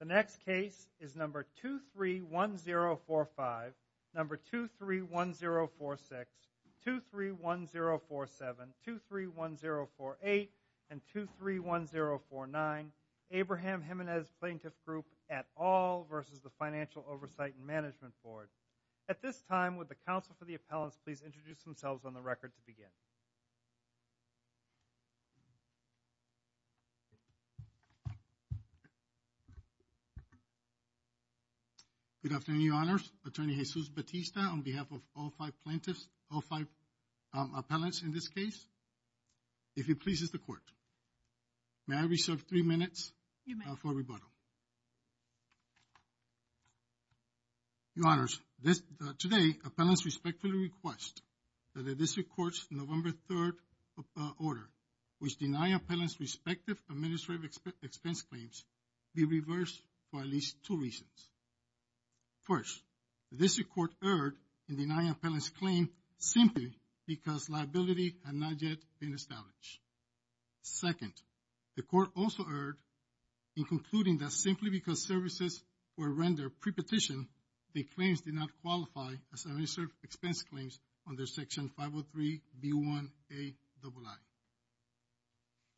The next case is number 231045, number 231046, 231047, 231048, and 231049, Abraham Gimenez Plaintiff Group et al. versus the Financial Oversight and Management Board. At this time, would the counsel for the appellants please introduce themselves on the record to begin? Good afternoon, Your Honors. Attorney Jesus Bautista on behalf of all five plaintiffs, all five appellants in this case. If it pleases the Court, may I reserve three minutes for rebuttal? You may. Your Honors, today, appellants respectfully request that the District Court's November 3rd order, which denies appellants' respective administrative expense claims, be reversed for at least two reasons. First, the District Court erred in denying appellants' claim simply because liability had not yet been established. Second, the Court also erred in concluding that simply because services were rendered pre-petition, the claims did not qualify as administrative expense claims under Section 503B1Aii.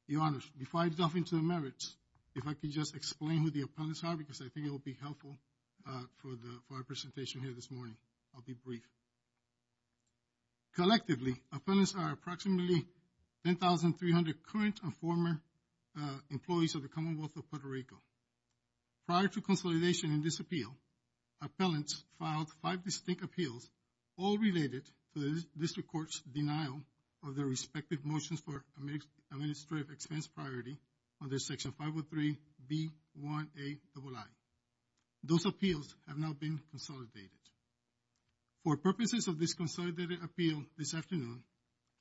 Your Honors, before I delve into the merits, if I could just explain who the appellants are because I think it will be helpful for our presentation here this morning. I'll be brief. Collectively, appellants are approximately 10,300 current and former employees of the Commonwealth of Puerto Rico. Prior to consolidation in this appeal, appellants filed five distinct appeals, all related to the District Court's denial of their respective motions for administrative expense priority under Section 503B1Aii. Those appeals have now been consolidated. For purposes of this consolidated appeal this afternoon,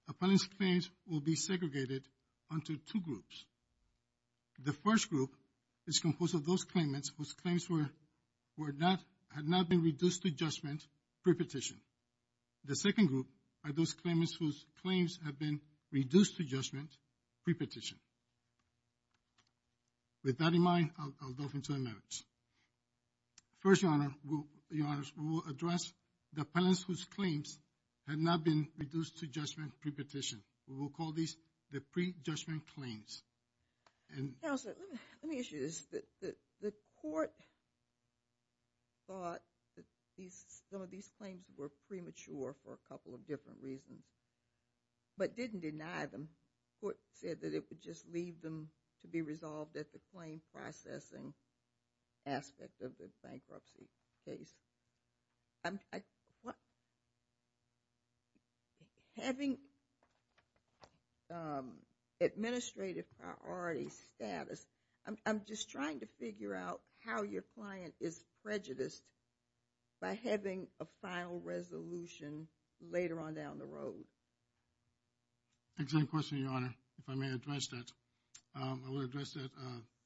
appellants' claims will be segregated onto two groups. The first group is composed of those claimants whose claims had not been reduced to judgment pre-petition. The second group are those claimants whose claims have been reduced to judgment pre-petition. First, Your Honors, we will address the appellants whose claims have not been reduced to judgment pre-petition. We will call these the pre-judgment claims. Counselor, let me ask you this. The Court thought that some of these claims were premature for a couple of different reasons, but didn't deny them. The Court said that it would just leave them to be resolved at the claim processing aspect of the bankruptcy case. Having administrative priority status, I'm just trying to figure out how your client is prejudiced by having a final resolution later on down the road. Excellent question, Your Honor. If I may address that, I will address that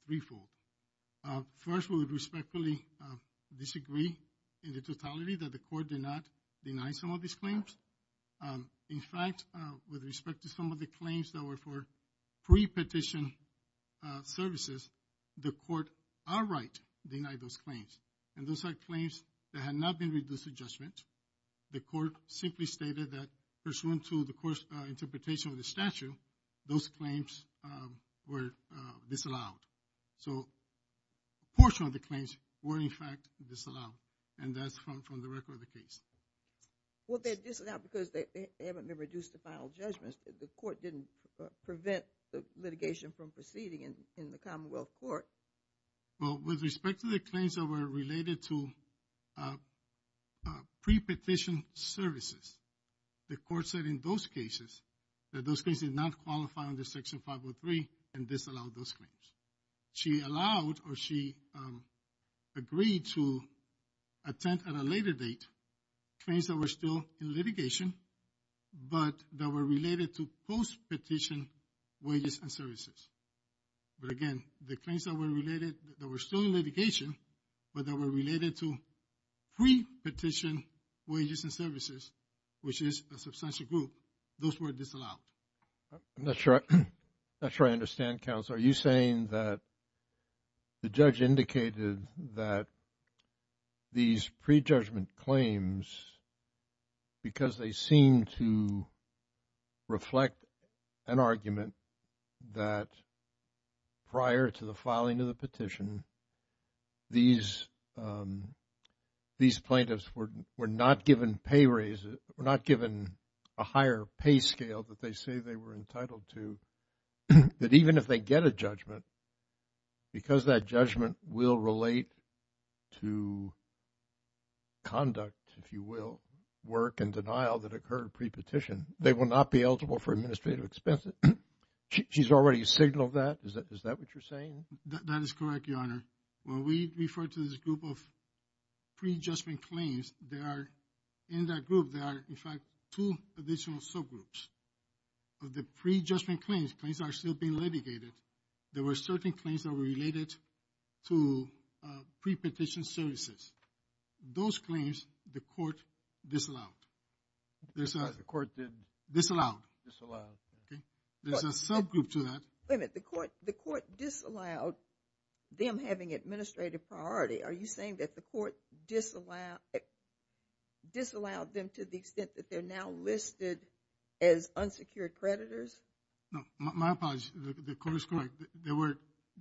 threefold. First, we would respectfully disagree in the totality that the Court did not deny some of these claims. In fact, with respect to some of the claims that were for pre-petition services, the Court outright denied those claims, and those are claims that had not been reduced to judgment. The Court simply stated that, pursuant to the Court's interpretation of the statute, those claims were disallowed. So a portion of the claims were, in fact, disallowed, and that's from the record of the case. Well, they're disallowed because they haven't been reduced to final judgment. The Court didn't prevent the litigation from proceeding in the Commonwealth Court. Well, with respect to the claims that were related to pre-petition services, the Court said in those cases that those claims did not qualify under Section 503 and disallowed those claims. She allowed or she agreed to attend at a later date claims that were still in litigation, but that were related to post-petition wages and services. But again, the claims that were related, that were still in litigation, but that were related to pre-petition wages and services, which is a substantial group, those were disallowed. I'm not sure I understand, Counselor. Are you saying that the judge indicated that these pre-judgment claims, because they seem to reflect an argument that prior to the filing of the petition, these plaintiffs were not given pay raises, were not given a higher pay scale that they say they were entitled to, that even if they get a judgment, because that judgment will relate to conduct, if you will, work and denial that occurred pre-petition, they will not be eligible for administrative expenses. She's already signaled that? Is that what you're saying? That is correct, Your Honor. When we refer to this group of pre-judgment claims, there are, in that group, there are, in fact, two additional subgroups. The pre-judgment claims, claims that are still being litigated, there were certain claims that were related to pre-petition services. Those claims, the court disallowed. The court didn't? Disallowed. Disallowed. Okay. There's a subgroup to that. Wait a minute. The court disallowed them having administrative priority. Are you saying that the court disallowed them to the extent that they're now listed as unsecured creditors? No. My apology. The court is correct. There were,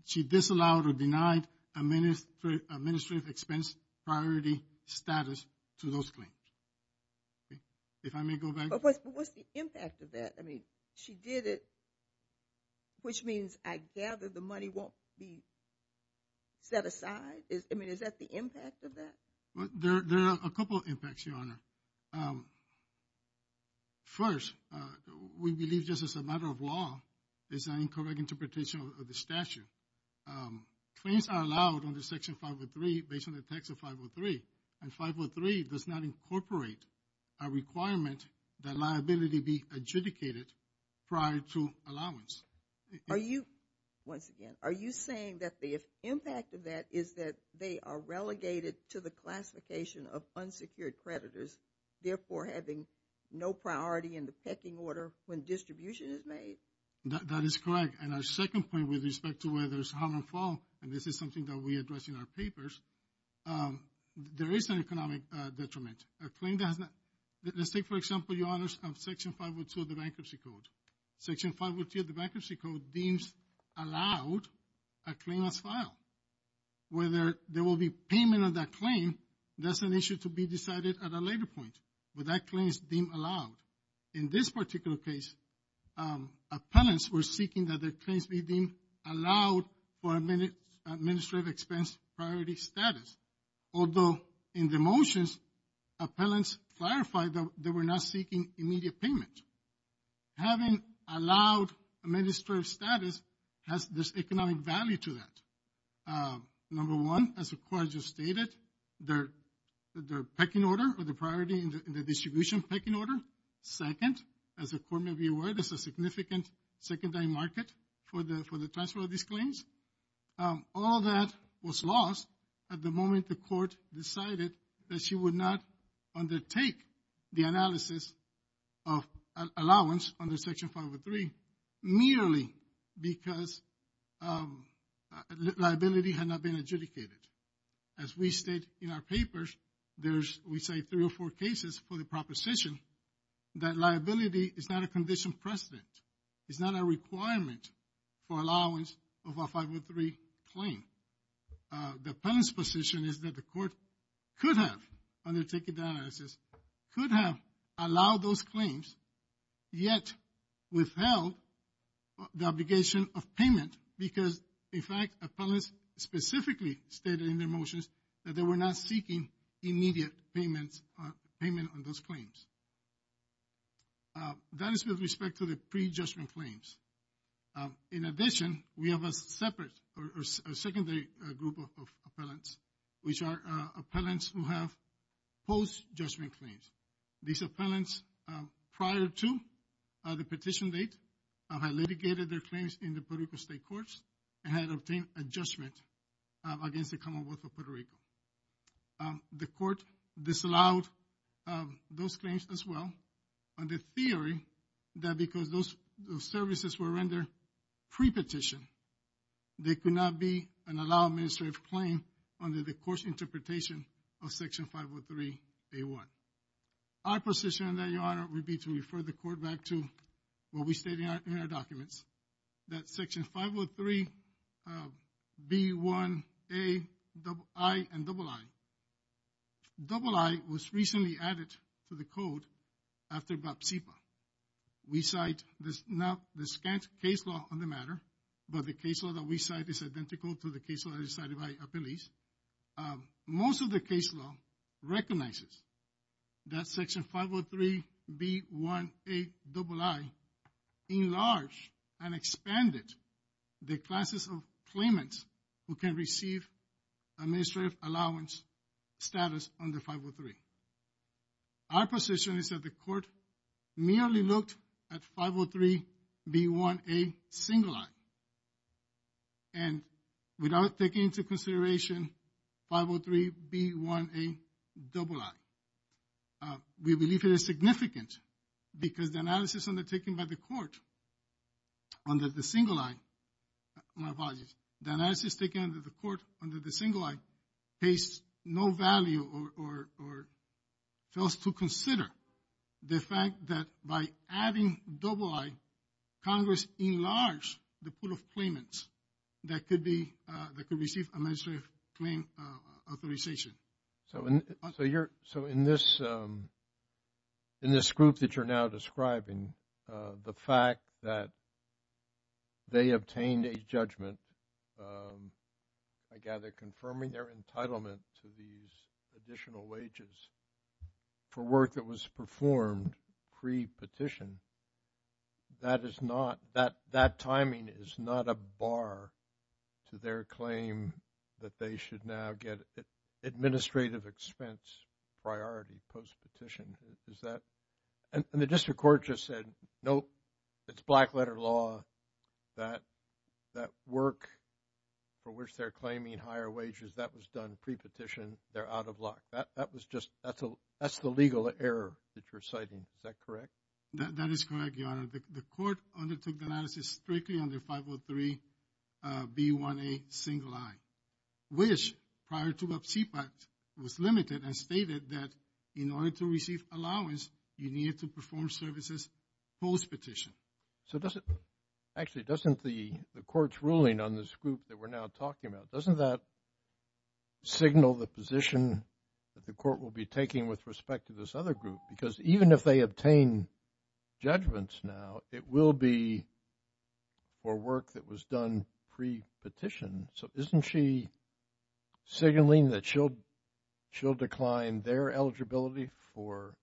she disallowed or denied administrative expense priority status to those claims. Okay. If I may go back. But what's the impact of that? I mean, she did it, which means, I gather, the money won't be set aside? I mean, is that the impact of that? There are a couple of impacts, Your Honor. First, we believe just as a matter of law, it's an incorrect interpretation of the statute. Claims are allowed under Section 503, based on the text of 503. And 503 does not incorporate a requirement that liability be adjudicated prior to allowance. Are you, once again, are you saying that the impact of that is that they are relegated to the classification of unsecured creditors, therefore having no priority in the pecking order when distribution is made? That is correct. And our second point, with respect to whether it's harm or fault, and this is something that we address in our papers, there is an economic detriment. A claim that has not, let's take, for example, Your Honors, Section 502 of the Bankruptcy Code. Section 502 of the Bankruptcy Code deems allowed a claim as filed. Whether there will be payment of that claim, that's an issue to be decided at a later point. But that claim is deemed allowed. In this particular case, appellants were seeking that their claims be deemed allowed for administrative expense priority status. Although in the motions, appellants clarified that they were not seeking immediate payment. Having allowed administrative status has this economic value to that. Number one, as the Court just stated, the pecking order or the priority in the distribution pecking order. Second, as the Court may be aware, there's a significant secondary market for the transfer of these claims. All of that was lost at the moment the Court decided that she would not undertake the analysis of allowance under Section 503 merely because liability had not been adjudicated. As we state in our papers, there's, we say, three or four cases for the proposition that liability is not a condition precedent. It's not a requirement for allowance of a 503 claim. The appellant's position is that the Court could have undertaken the analysis, could have allowed those claims, yet withheld the obligation of payment because, in fact, appellants specifically stated in their motions that they were not seeking immediate payments, payment on those claims. That is with respect to the prejudgment claims. In addition, we have a separate or secondary group of appellants, which are appellants who have post-judgment claims. These appellants, prior to the petition date, had litigated their claims in the Puerto Rico State Courts and had obtained a judgment against the Commonwealth of Puerto Rico. The Court disallowed those claims as well on the theory that because those services were rendered pre-petition, they could not be an allowed administrative claim under the Court's interpretation of Section 503A1. Our position, Your Honor, would be to refer the Court back to what we state in our documents, that Section 503B1AI and III. III was recently added to the Code after BAP-CIPA. We cite the scant case law on the matter, but the case law that we cite is identical to the case law that is cited by appellees. Most of the case law recognizes that Section 503B1AII enlarged and expanded the classes of claimants who can receive administrative allowance status under 503. Our position is that the Court merely looked at 503B1A I. And without taking into consideration 503B1A III, we believe it is significant because the analysis undertaken by the Court under the single I, my apologies, the analysis taken under the Court under the single I pays no value or tells to consider the fact that by adding double I, Congress enlarged the pool of claimants that could receive administrative claim authorization. So in this group that you're now describing, the fact that they obtained a judgment, I gather confirming their entitlement to these additional wages for work that was performed pre-petition, that is not, that timing is not a bar to their claim that they should now get administrative expense priority post-petition. Is that, and the District Court just said, nope, it's black letter law that work for which they're claiming higher wages, that was done pre-petition, they're out of luck. That was just, that's the legal error that you're citing. Is that correct? That is correct, Your Honor. The Court undertook the analysis strictly under 503B1A single I, which prior to the CPAC was limited and stated that in order to receive allowance, you needed to perform services post-petition. So does it, actually doesn't the Court's ruling on this group that we're now talking about, doesn't that signal the position that the Court will be taking with respect to this other group? Because even if they obtain judgments now, it will be for work that was done pre-petition. So isn't she signaling that she'll decline their eligibility for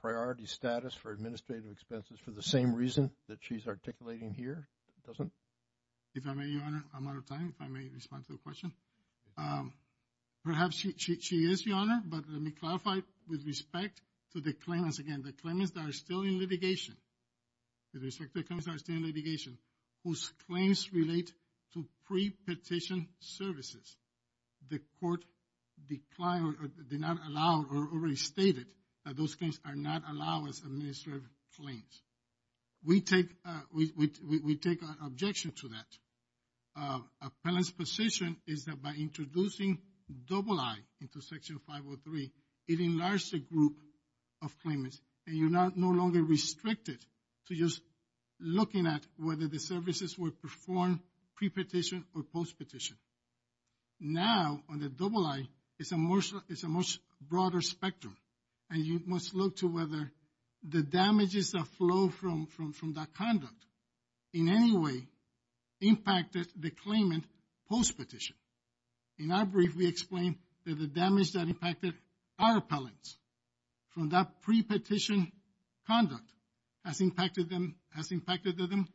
priority status for administrative expenses for the same reason that she's articulating here? Doesn't? If I may, Your Honor, I'm out of time. If I may respond to the question. Perhaps she is, Your Honor, but let me clarify with respect to the claimants. Again, the claimants that are still in litigation, with respect to the claimants that are still in litigation, whose claims relate to pre-petition services, the Court declined or did not allow or already stated that those claims are not allowed as administrative claims. We take, we take an objection to that. Appellant's position is that by introducing double I into Section 503, it enlarged the group of claimants, and you're no longer restricted to just looking at whether the services were performed pre-petition or post-petition. Now, on the double I, it's a much broader spectrum, and you must look to whether the damages that flow from that conduct in any way impacted the claimant post-petition. In our brief, we explain that the damage that impacted our appellants from that pre-petition conduct has impacted them, has impacted them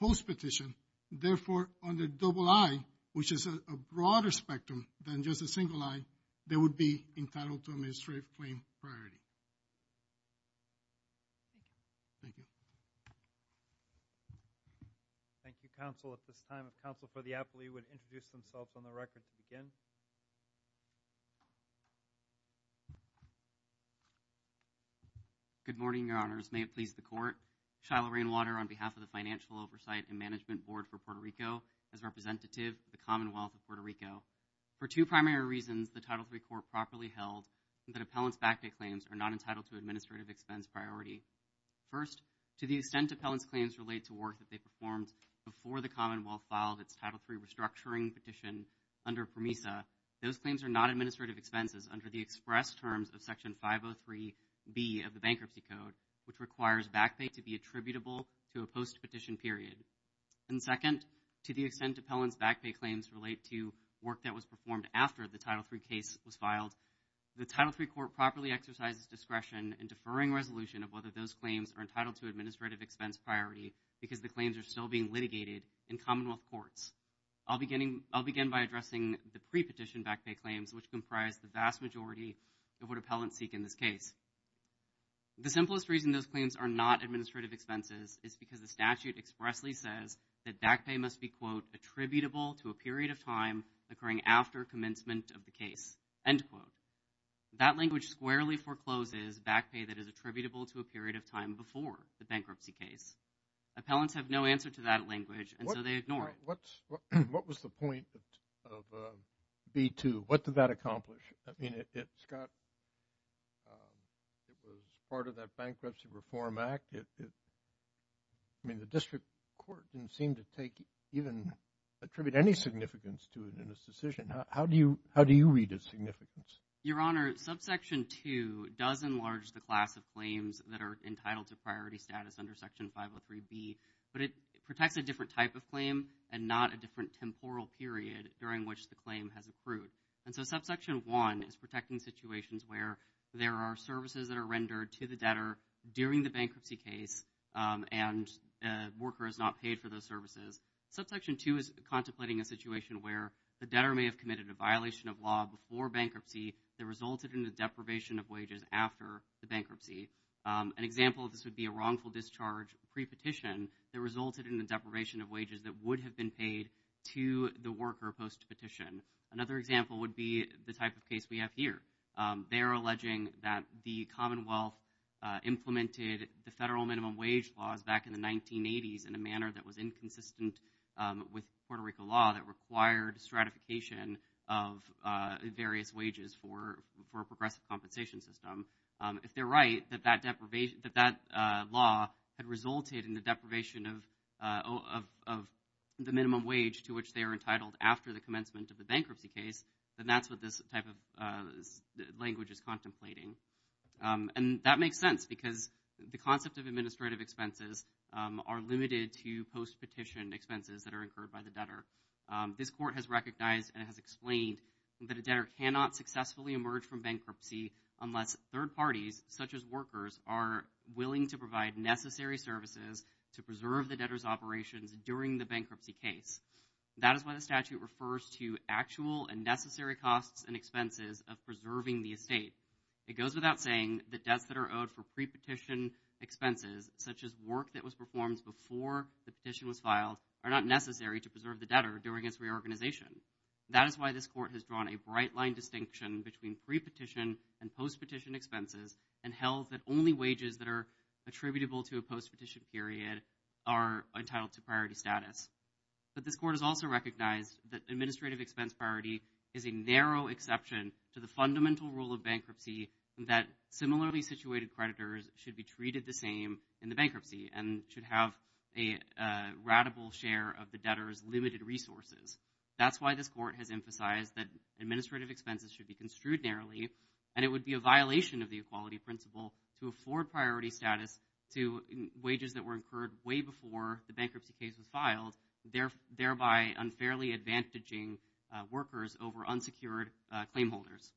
post-petition. Therefore, on the double I, which is a broader spectrum than just a single I, they would be entitled to administrative claim priority. Thank you. Thank you, Counsel. At this time, if Counsel for the Appellee would introduce themselves on the record to begin. Good morning, Your Honors. May it please the Court. Shiloh Rainwater on behalf of the Financial Oversight and Management Board for Puerto Rico as representative of the Commonwealth of Puerto Rico. For two primary reasons, the Title III Court properly held that appellant's back-day claims are not entitled to administrative expense priority. First, to the extent appellant's claims relate to work that they performed before the Commonwealth filed its Title III restructuring petition under PROMESA, those claims are not administrative expenses under the express terms of Section 503B of the Bankruptcy Code, which requires back-pay to be attributable to a post-petition period. And second, to the extent appellant's back-pay claims relate to work that was performed after the Title III case was filed, the Title III Court properly exercises discretion in deferring resolution of whether those claims are entitled to administrative expense priority because the claims are still being litigated in Commonwealth courts. I'll begin by addressing the pre-petition back-pay claims, which comprise the vast majority of what appellants seek in this case. The simplest reason those claims are not administrative expenses is because the statute expressly says that back-pay must be, quote, attributable to a period of time occurring after commencement of the case, end quote. That language squarely forecloses back-pay that is attributable to a period of time before the bankruptcy case. Appellants have no answer to that language, and so they ignore it. What was the point of B-2? What did that accomplish? I mean, it's got, it was part of that Bankruptcy Reform Act. I mean, the District Court didn't seem to take even, attribute any significance to it How do you read its significance? Your Honor, Subsection 2 does enlarge the class of claims that are entitled to priority status under Section 503B, but it protects a different type of claim and not a different temporal period during which the claim has accrued. And so Subsection 1 is protecting situations where there are services that are rendered to the debtor during the bankruptcy case, and a worker is not paid for those services. Subsection 2 is contemplating a situation where the debtor may have committed a violation of law before bankruptcy that resulted in the deprivation of wages after the bankruptcy. An example of this would be a wrongful discharge pre-petition that resulted in the deprivation of wages that would have been paid to the worker post-petition. Another example would be the type of case we have here. They are alleging that the Commonwealth implemented the federal minimum wage laws back in the with Puerto Rico law that required stratification of various wages for a progressive compensation system. If they're right, that that law had resulted in the deprivation of the minimum wage to which they are entitled after the commencement of the bankruptcy case, then that's what this type of language is contemplating. And that makes sense because the concept of administrative expenses are limited to post-petition expenses that are incurred by the debtor. This court has recognized and has explained that a debtor cannot successfully emerge from bankruptcy unless third parties, such as workers, are willing to provide necessary services to preserve the debtor's operations during the bankruptcy case. That is why the statute refers to actual and necessary costs and expenses of preserving the estate. It goes without saying that debts that are owed for pre-petition expenses, such as work that was performed before the petition was filed, are not necessary to preserve the debtor during its reorganization. That is why this court has drawn a bright line distinction between pre-petition and post-petition expenses and held that only wages that are attributable to a post-petition period are entitled to priority status. But this court has also recognized that administrative expense priority is a narrow exception to the fundamental rule of bankruptcy that similarly situated creditors should be treated the same in the bankruptcy and should have a ratable share of the debtor's limited resources. That is why this court has emphasized that administrative expenses should be construed narrowly and it would be a violation of the equality principle to afford priority status to wages that were incurred way before the bankruptcy case was filed, thereby unfairly advantaging workers over unsecured claim holders.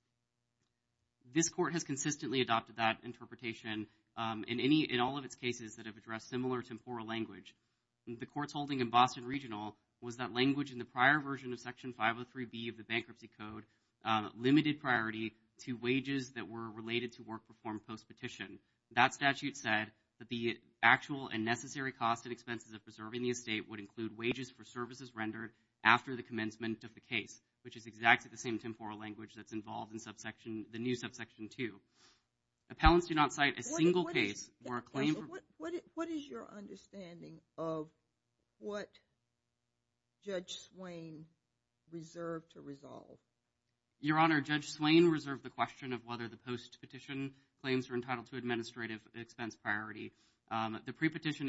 This court has consistently adopted that interpretation in all of its cases that have addressed similar temporal language. The court's holding in Boston Regional was that language in the prior version of Section 503B of the Bankruptcy Code limited priority to wages that were related to work performed post-petition. That statute said that the actual and necessary cost and expenses of preserving the estate would include wages for services rendered after the commencement of the case, which is exactly the same temporal language that's involved in the new Subsection 2. Appellants do not cite a single case where a claim... What is your understanding of what Judge Swain reserved to resolve? Your Honor, Judge Swain reserved the question of whether the post-petition claims were entitled to administrative expense priority. The pre-petition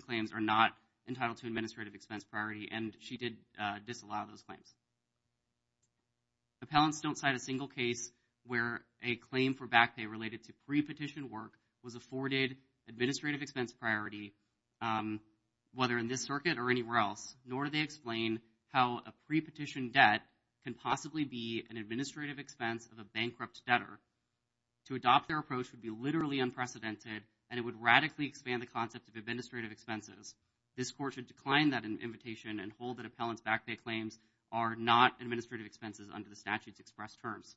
claims are not entitled to administrative expense priority and she did disallow those claims. Appellants don't cite a single case where a claim for back pay related to pre-petition work was afforded administrative expense priority, whether in this circuit or anywhere else, nor do they explain how a pre-petition debt can possibly be an administrative expense of a bankrupt debtor. To adopt their approach would be literally unprecedented and it would radically expand the concept of administrative expenses. This Court should decline that invitation and hold that appellants' back pay claims are not administrative expenses under the statute's express terms.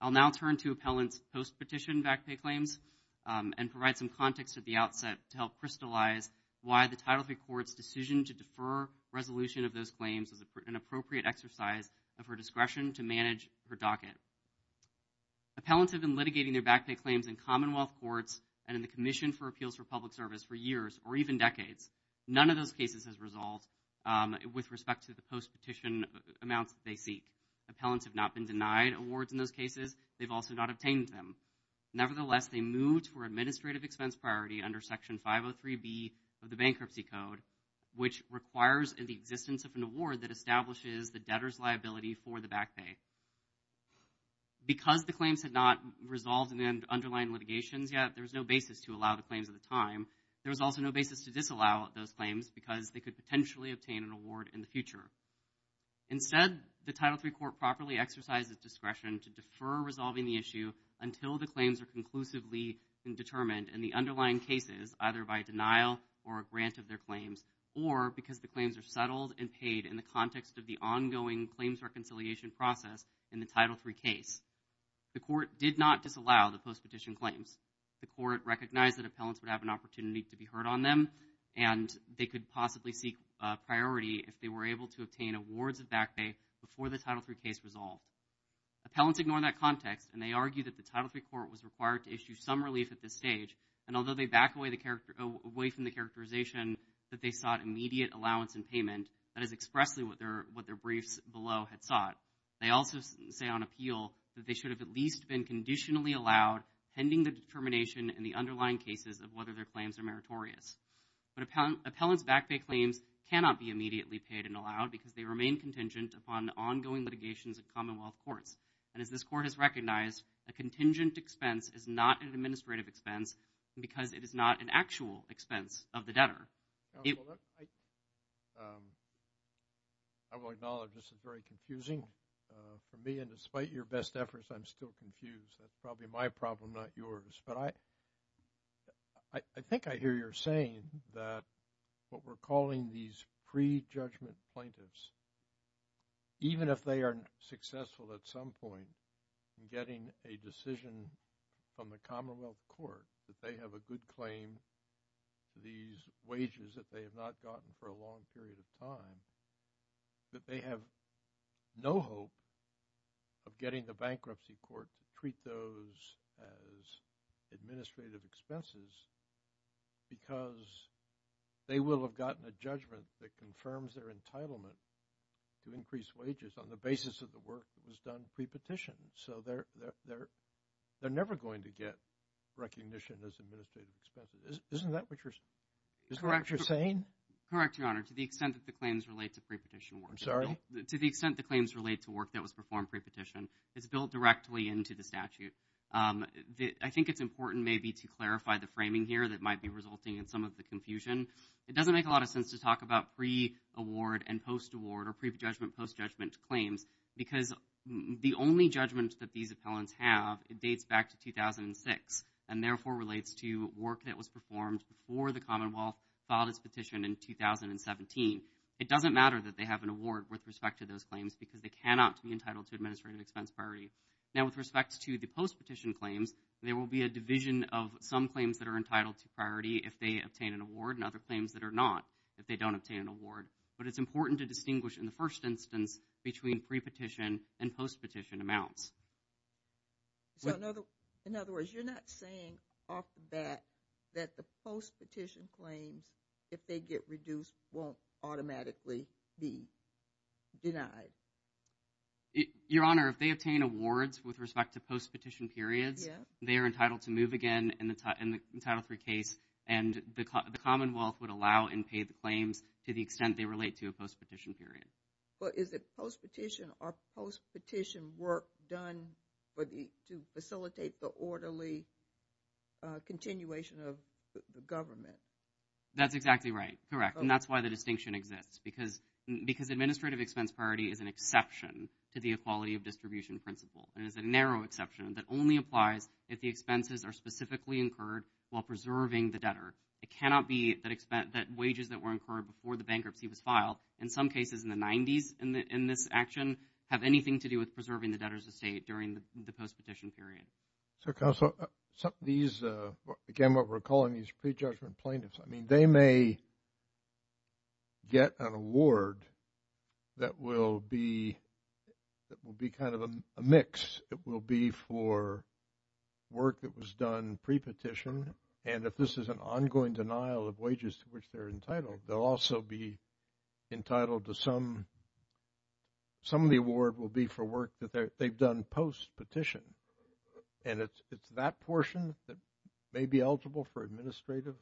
I'll now turn to appellants' post-petition back pay claims and provide some context at the outset to help crystallize why the Title III Court's decision to defer resolution of those claims was an appropriate exercise of her discretion to manage her docket. Appellants have been litigating their back pay claims in Commonwealth courts and in the Commission for Appeals for Public Service for years or even decades. None of those cases has resolved with respect to the post-petition amounts they seek. Appellants have not been denied awards in those cases. They've also not obtained them. Nevertheless, they moved for administrative expense priority under Section 503B of the Bankruptcy Code, which requires the existence of an award that establishes the debtor's liability for the back pay. Because the claims had not resolved in the underlying litigations yet, there was no basis to allow the claims at the time. There was also no basis to disallow those claims because they could potentially obtain an award in the future. Instead, the Title III Court properly exercised its discretion to defer resolving the issue until the claims are conclusively determined in the underlying cases, either by denial or a grant of their claims, or because the claims are settled and paid in the context of the ongoing claims reconciliation process in the Title III case. The Court did not disallow the post-petition claims. The Court recognized that appellants would have an opportunity to be heard on them, and they could possibly seek priority if they were able to obtain awards of back pay before the Title III case resolved. Appellants ignored that context, and they argued that the Title III Court was required to issue some relief at this stage, and although they backed away from the characterization that they sought immediate allowance and payment, that is expressly what their briefs below had sought, they also say on appeal that they should have at least been conditionally allowed pending the determination in the underlying cases of whether their claims are meritorious. But appellants' back pay claims cannot be immediately paid and allowed because they remain contingent upon ongoing litigations of Commonwealth courts. And as this Court has recognized, a contingent expense is not an administrative expense because it is not an actual expense of the debtor. I will acknowledge this is very confusing for me, and despite your best efforts, I'm still confused. That's probably my problem, not yours. But I think I hear your saying that what we're calling these pre-judgment plaintiffs, even if they are successful at some point in getting a decision from the Commonwealth Court that they have a good claim to these wages that they have not gotten for a long period of time, that they have no hope of getting the bankruptcy court to treat those as administrative expenses because they will have gotten a judgment that confirms their entitlement to increase wages on the basis of the work that was done pre-petition. So they're never going to get recognition as administrative expenses. Isn't that what you're saying? Correct, Your Honor. To the extent that the claims relate to pre-petition work. To the extent the claims relate to work that was performed pre-petition is built directly into the statute. I think it's important maybe to clarify the framing here that might be resulting in some of the confusion. It doesn't make a lot of sense to talk about pre-award and post-award or pre-judgment, post-judgment claims because the only judgment that these appellants have dates back to 2006 and therefore relates to work that was performed before the Commonwealth filed its petition in 2017. It doesn't matter that they have an award with respect to those claims because they cannot be entitled to administrative expense priority. Now with respect to the post-petition claims there will be a division of some claims that are entitled to priority if they obtain an award and other claims that are not if they don't obtain an award. But it's important to distinguish in the first instance between pre-petition and post-petition amounts. So in other words, you're not saying off the bat that the post-petition claims if they get reduced won't automatically be denied? Your Honor, if they obtain awards with respect to post-petition periods, they are entitled to move again in the Title III case and the Commonwealth would allow and pay the claims to the extent they relate to a post-petition period. But is it post-petition or post-petition work done to facilitate the orderly continuation of government? That's exactly right. Correct. And that's why the distinction exists because administrative expense priority is an exception to the equality of distribution principle and is a narrow exception that only applies if the expenses are specifically incurred while preserving the debtor. It cannot be that wages that were incurred before the bankruptcy was filed, in some cases in the 90s in this action, have anything to do with preserving the debtor's estate during the post-petition period. So Counselor, again what we're calling these pre-judgment plaintiffs, I mean they may get an award that will be kind of a mix. It will be for work that was done pre-petition and if this is an ongoing denial of wages to which they're entitled, they'll also be entitled to some of the award will be for work that they've done post-petition and it's that portion that may be eligible for administrative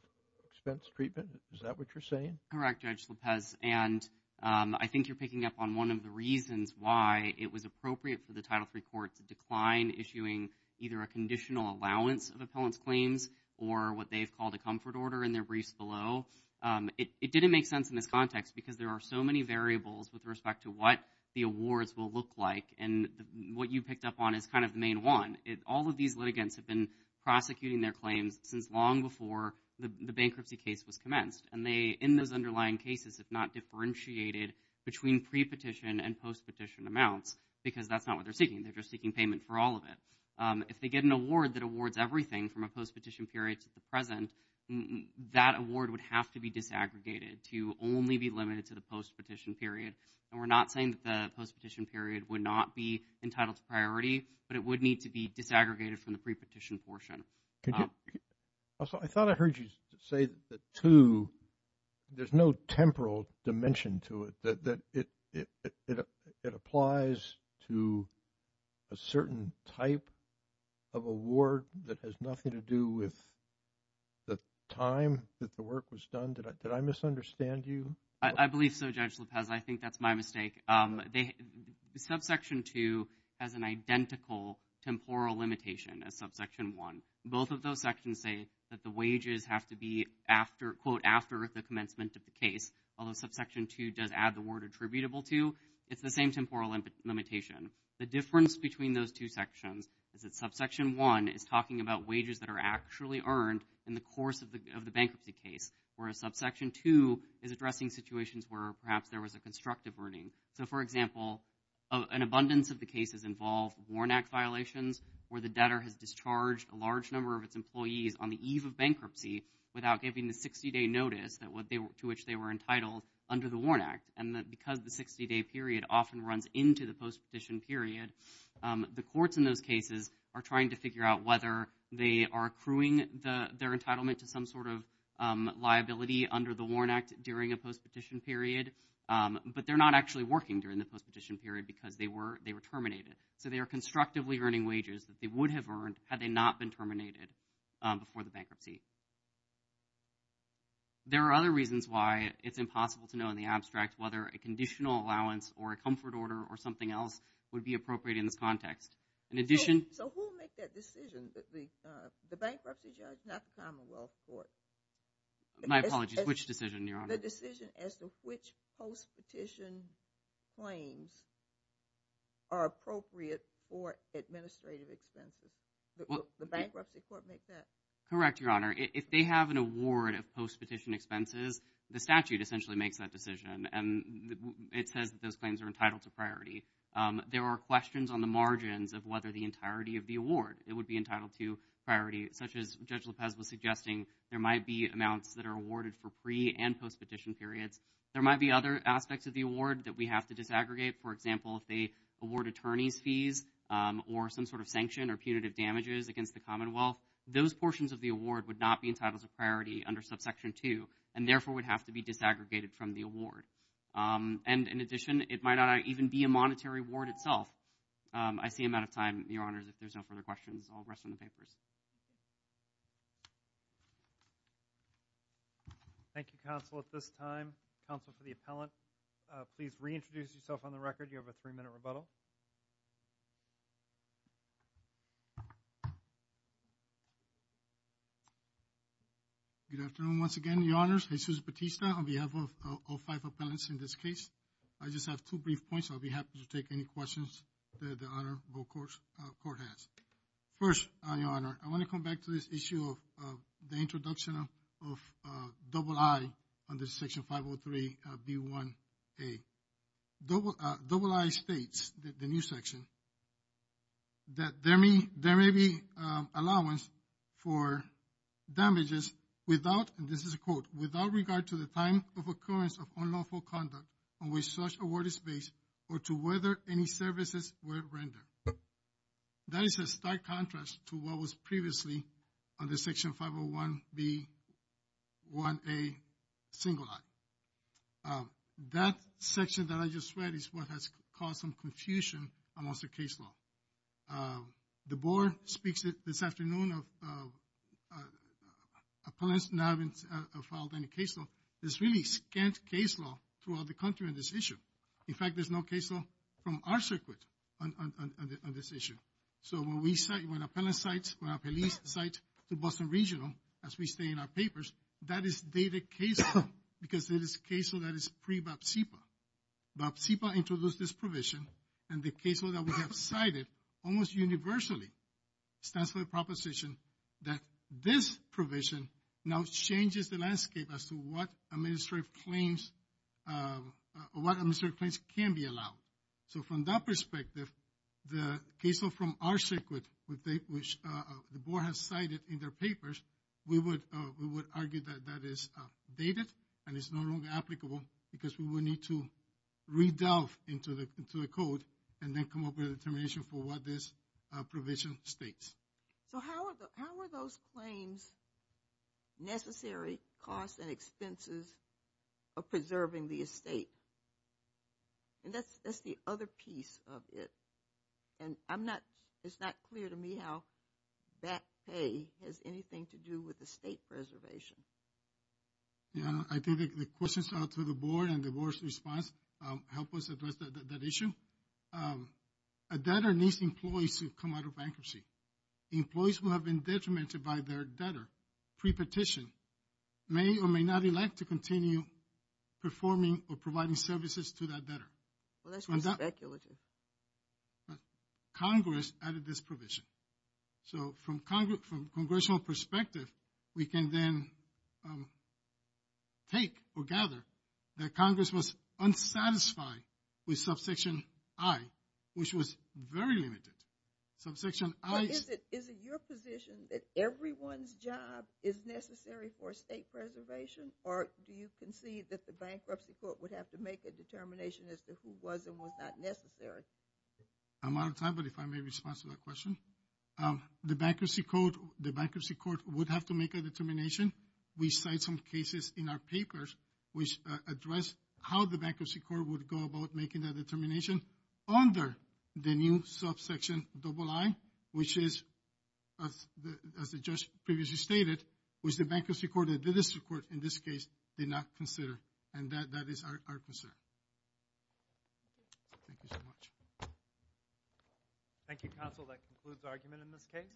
expense treatment? Is that what you're saying? Correct, Judge Lopez, and I think you're picking up on one of the reasons why it was appropriate for the Title III Court to decline issuing either a conditional allowance of appellant's claims or what they've called a comfort order in their briefs below. It didn't make sense in this context because there are so many variables with respect to what the awards will look like and what you picked up on is kind of the main one. All of these litigants have been prosecuting their claims since long before the bankruptcy case was commenced and they in those underlying cases have not differentiated between pre-petition and post-petition amounts because that's not what they're seeking. They're just seeking payment for all of it. If they get an award that awards everything from a post-petition period to the present, that award would have to be disaggregated to only be limited to the post-petition period and we're not saying that the post-petition period would not be entitled to priority, but it would need to be disaggregated from the pre-petition portion. I thought I heard you say that there's no temporal dimension to it that it applies to a certain type of award that has nothing to do with the time that the work was done. Did I misunderstand you? I believe so, Judge Lopez. I think that's my mistake. Subsection 2 has an identical temporal limitation as subsection 1. Both of those sections say that the wages have to be after, quote, after the commencement of the case. Although subsection 2 does add the word attributable to, it's the same temporal limitation. The difference between those two sections is that the wages that are actually earned in the course of the bankruptcy case, whereas subsection 2 is addressing situations where perhaps there was a constructive earning. So, for example, an abundance of the cases involve WARN Act violations where the debtor has discharged a large number of its employees on the eve of bankruptcy without giving the 60-day notice to which they were entitled under the WARN Act. And because the 60-day period often runs into the post-petition period, the courts in those cases are trying to figure out whether they are accruing their entitlement to some sort of liability under the WARN Act during a post-petition period. But they're not actually working during the post-petition period because they were terminated. So they are constructively earning wages that they would have earned had they not been terminated before the bankruptcy. There are other reasons why it's impossible to know in the abstract whether a conditional allowance or a comfort order or something else would be appropriate in this context. In addition... So who will make that decision? The bankruptcy judge, not the Commonwealth Court. My apologies, which decision, Your Honor? The decision as to which post-petition claims are appropriate for administrative expenses. The Bankruptcy Court makes that. Correct, Your Honor. If they have an award of post-petition expenses, the statute essentially makes that decision. It says that those claims are entitled to priority. There are questions on the margins of whether the entirety of the award would be entitled to priority, such as Judge Lopez was suggesting there might be amounts that are awarded for pre- and post-petition periods. There might be other aspects of the award that we have to disaggregate. For example, if they award attorney's fees or some sort of sanction or punitive damages against the Commonwealth, those portions of the award would not be entitled to priority under Subsection 2, and therefore would have to be disaggregated from the award. And in addition, it might not even be a monetary award itself. I see I'm out of time, Your Honors. If there's no further questions, I'll rest on the papers. Thank you, Counsel. At this time, Counsel for the Appellant, please reintroduce yourself on the record. You have a three-minute rebuttal. Good afternoon once again, Your Honors. I'm Jesus Batista on behalf of all five appellants in this case. I just have two brief points, so I'll be happy to take any questions that the Honorable Court has. First, Your Honor, I want to come back to this issue of the introduction of double I under Section 503B1A. Double I states, the new section, that there may be allowance for damages without, and this is a quote, without regard to the time of occurrence of unlawful conduct on which such award is based or to whether any services were rendered. That is a stark contrast to what was previously under Section 501B1A single I. That section that I just read is what has caused some confusion amongst the case law. The Board speaks this afternoon of appellants not having filed any case law. There's really scant case law throughout the country on this issue. In fact, there's no case law from our circuit on this issue. So when we cite, when appellants cite, when our police cite to Boston Regional, as we state in our papers, that is dated case law because it is case law that is pre-BAPSIPA. BAPSIPA introduced this provision, and the case law that we have cited almost universally stands for the proposition that this provision now changes the landscape as to what administrative claims can be allowed. So from that perspective, the case law from our circuit, which the Board has cited in their papers, we would argue that that is dated and is no longer applicable because we will need to re-delve into the code and then come up with a determination for what this provision states. So how are those claims necessary costs and expenses of preserving the estate? And that's the other piece of it. And I'm not it's not clear to me how that pay has anything to do with the state preservation. I think the questions out to the Board and the Board's response help us address that issue. A debtor needs employees to come out of bankruptcy. Employees who have been detrimented by their debtor pre-petition may or may not elect to continue performing or providing services to that debtor. Congress added this provision. So from Congressional perspective, we can then take or gather that Congress was subsection I, which was very limited. Is it your position that everyone's job is necessary for estate preservation or do you concede that the bankruptcy court would have to make a determination as to who was and was not necessary? I'm out of time, but if I may respond to that question. The bankruptcy court would have to make a determination. We cite some cases in our papers which address how the bankruptcy court would go about making that determination under the new subsection double I, which is as the judge previously stated, which the bankruptcy court and the district court in this case did not consider. And that is our concern. Thank you so much. Thank you, Counsel. That concludes the argument in this case.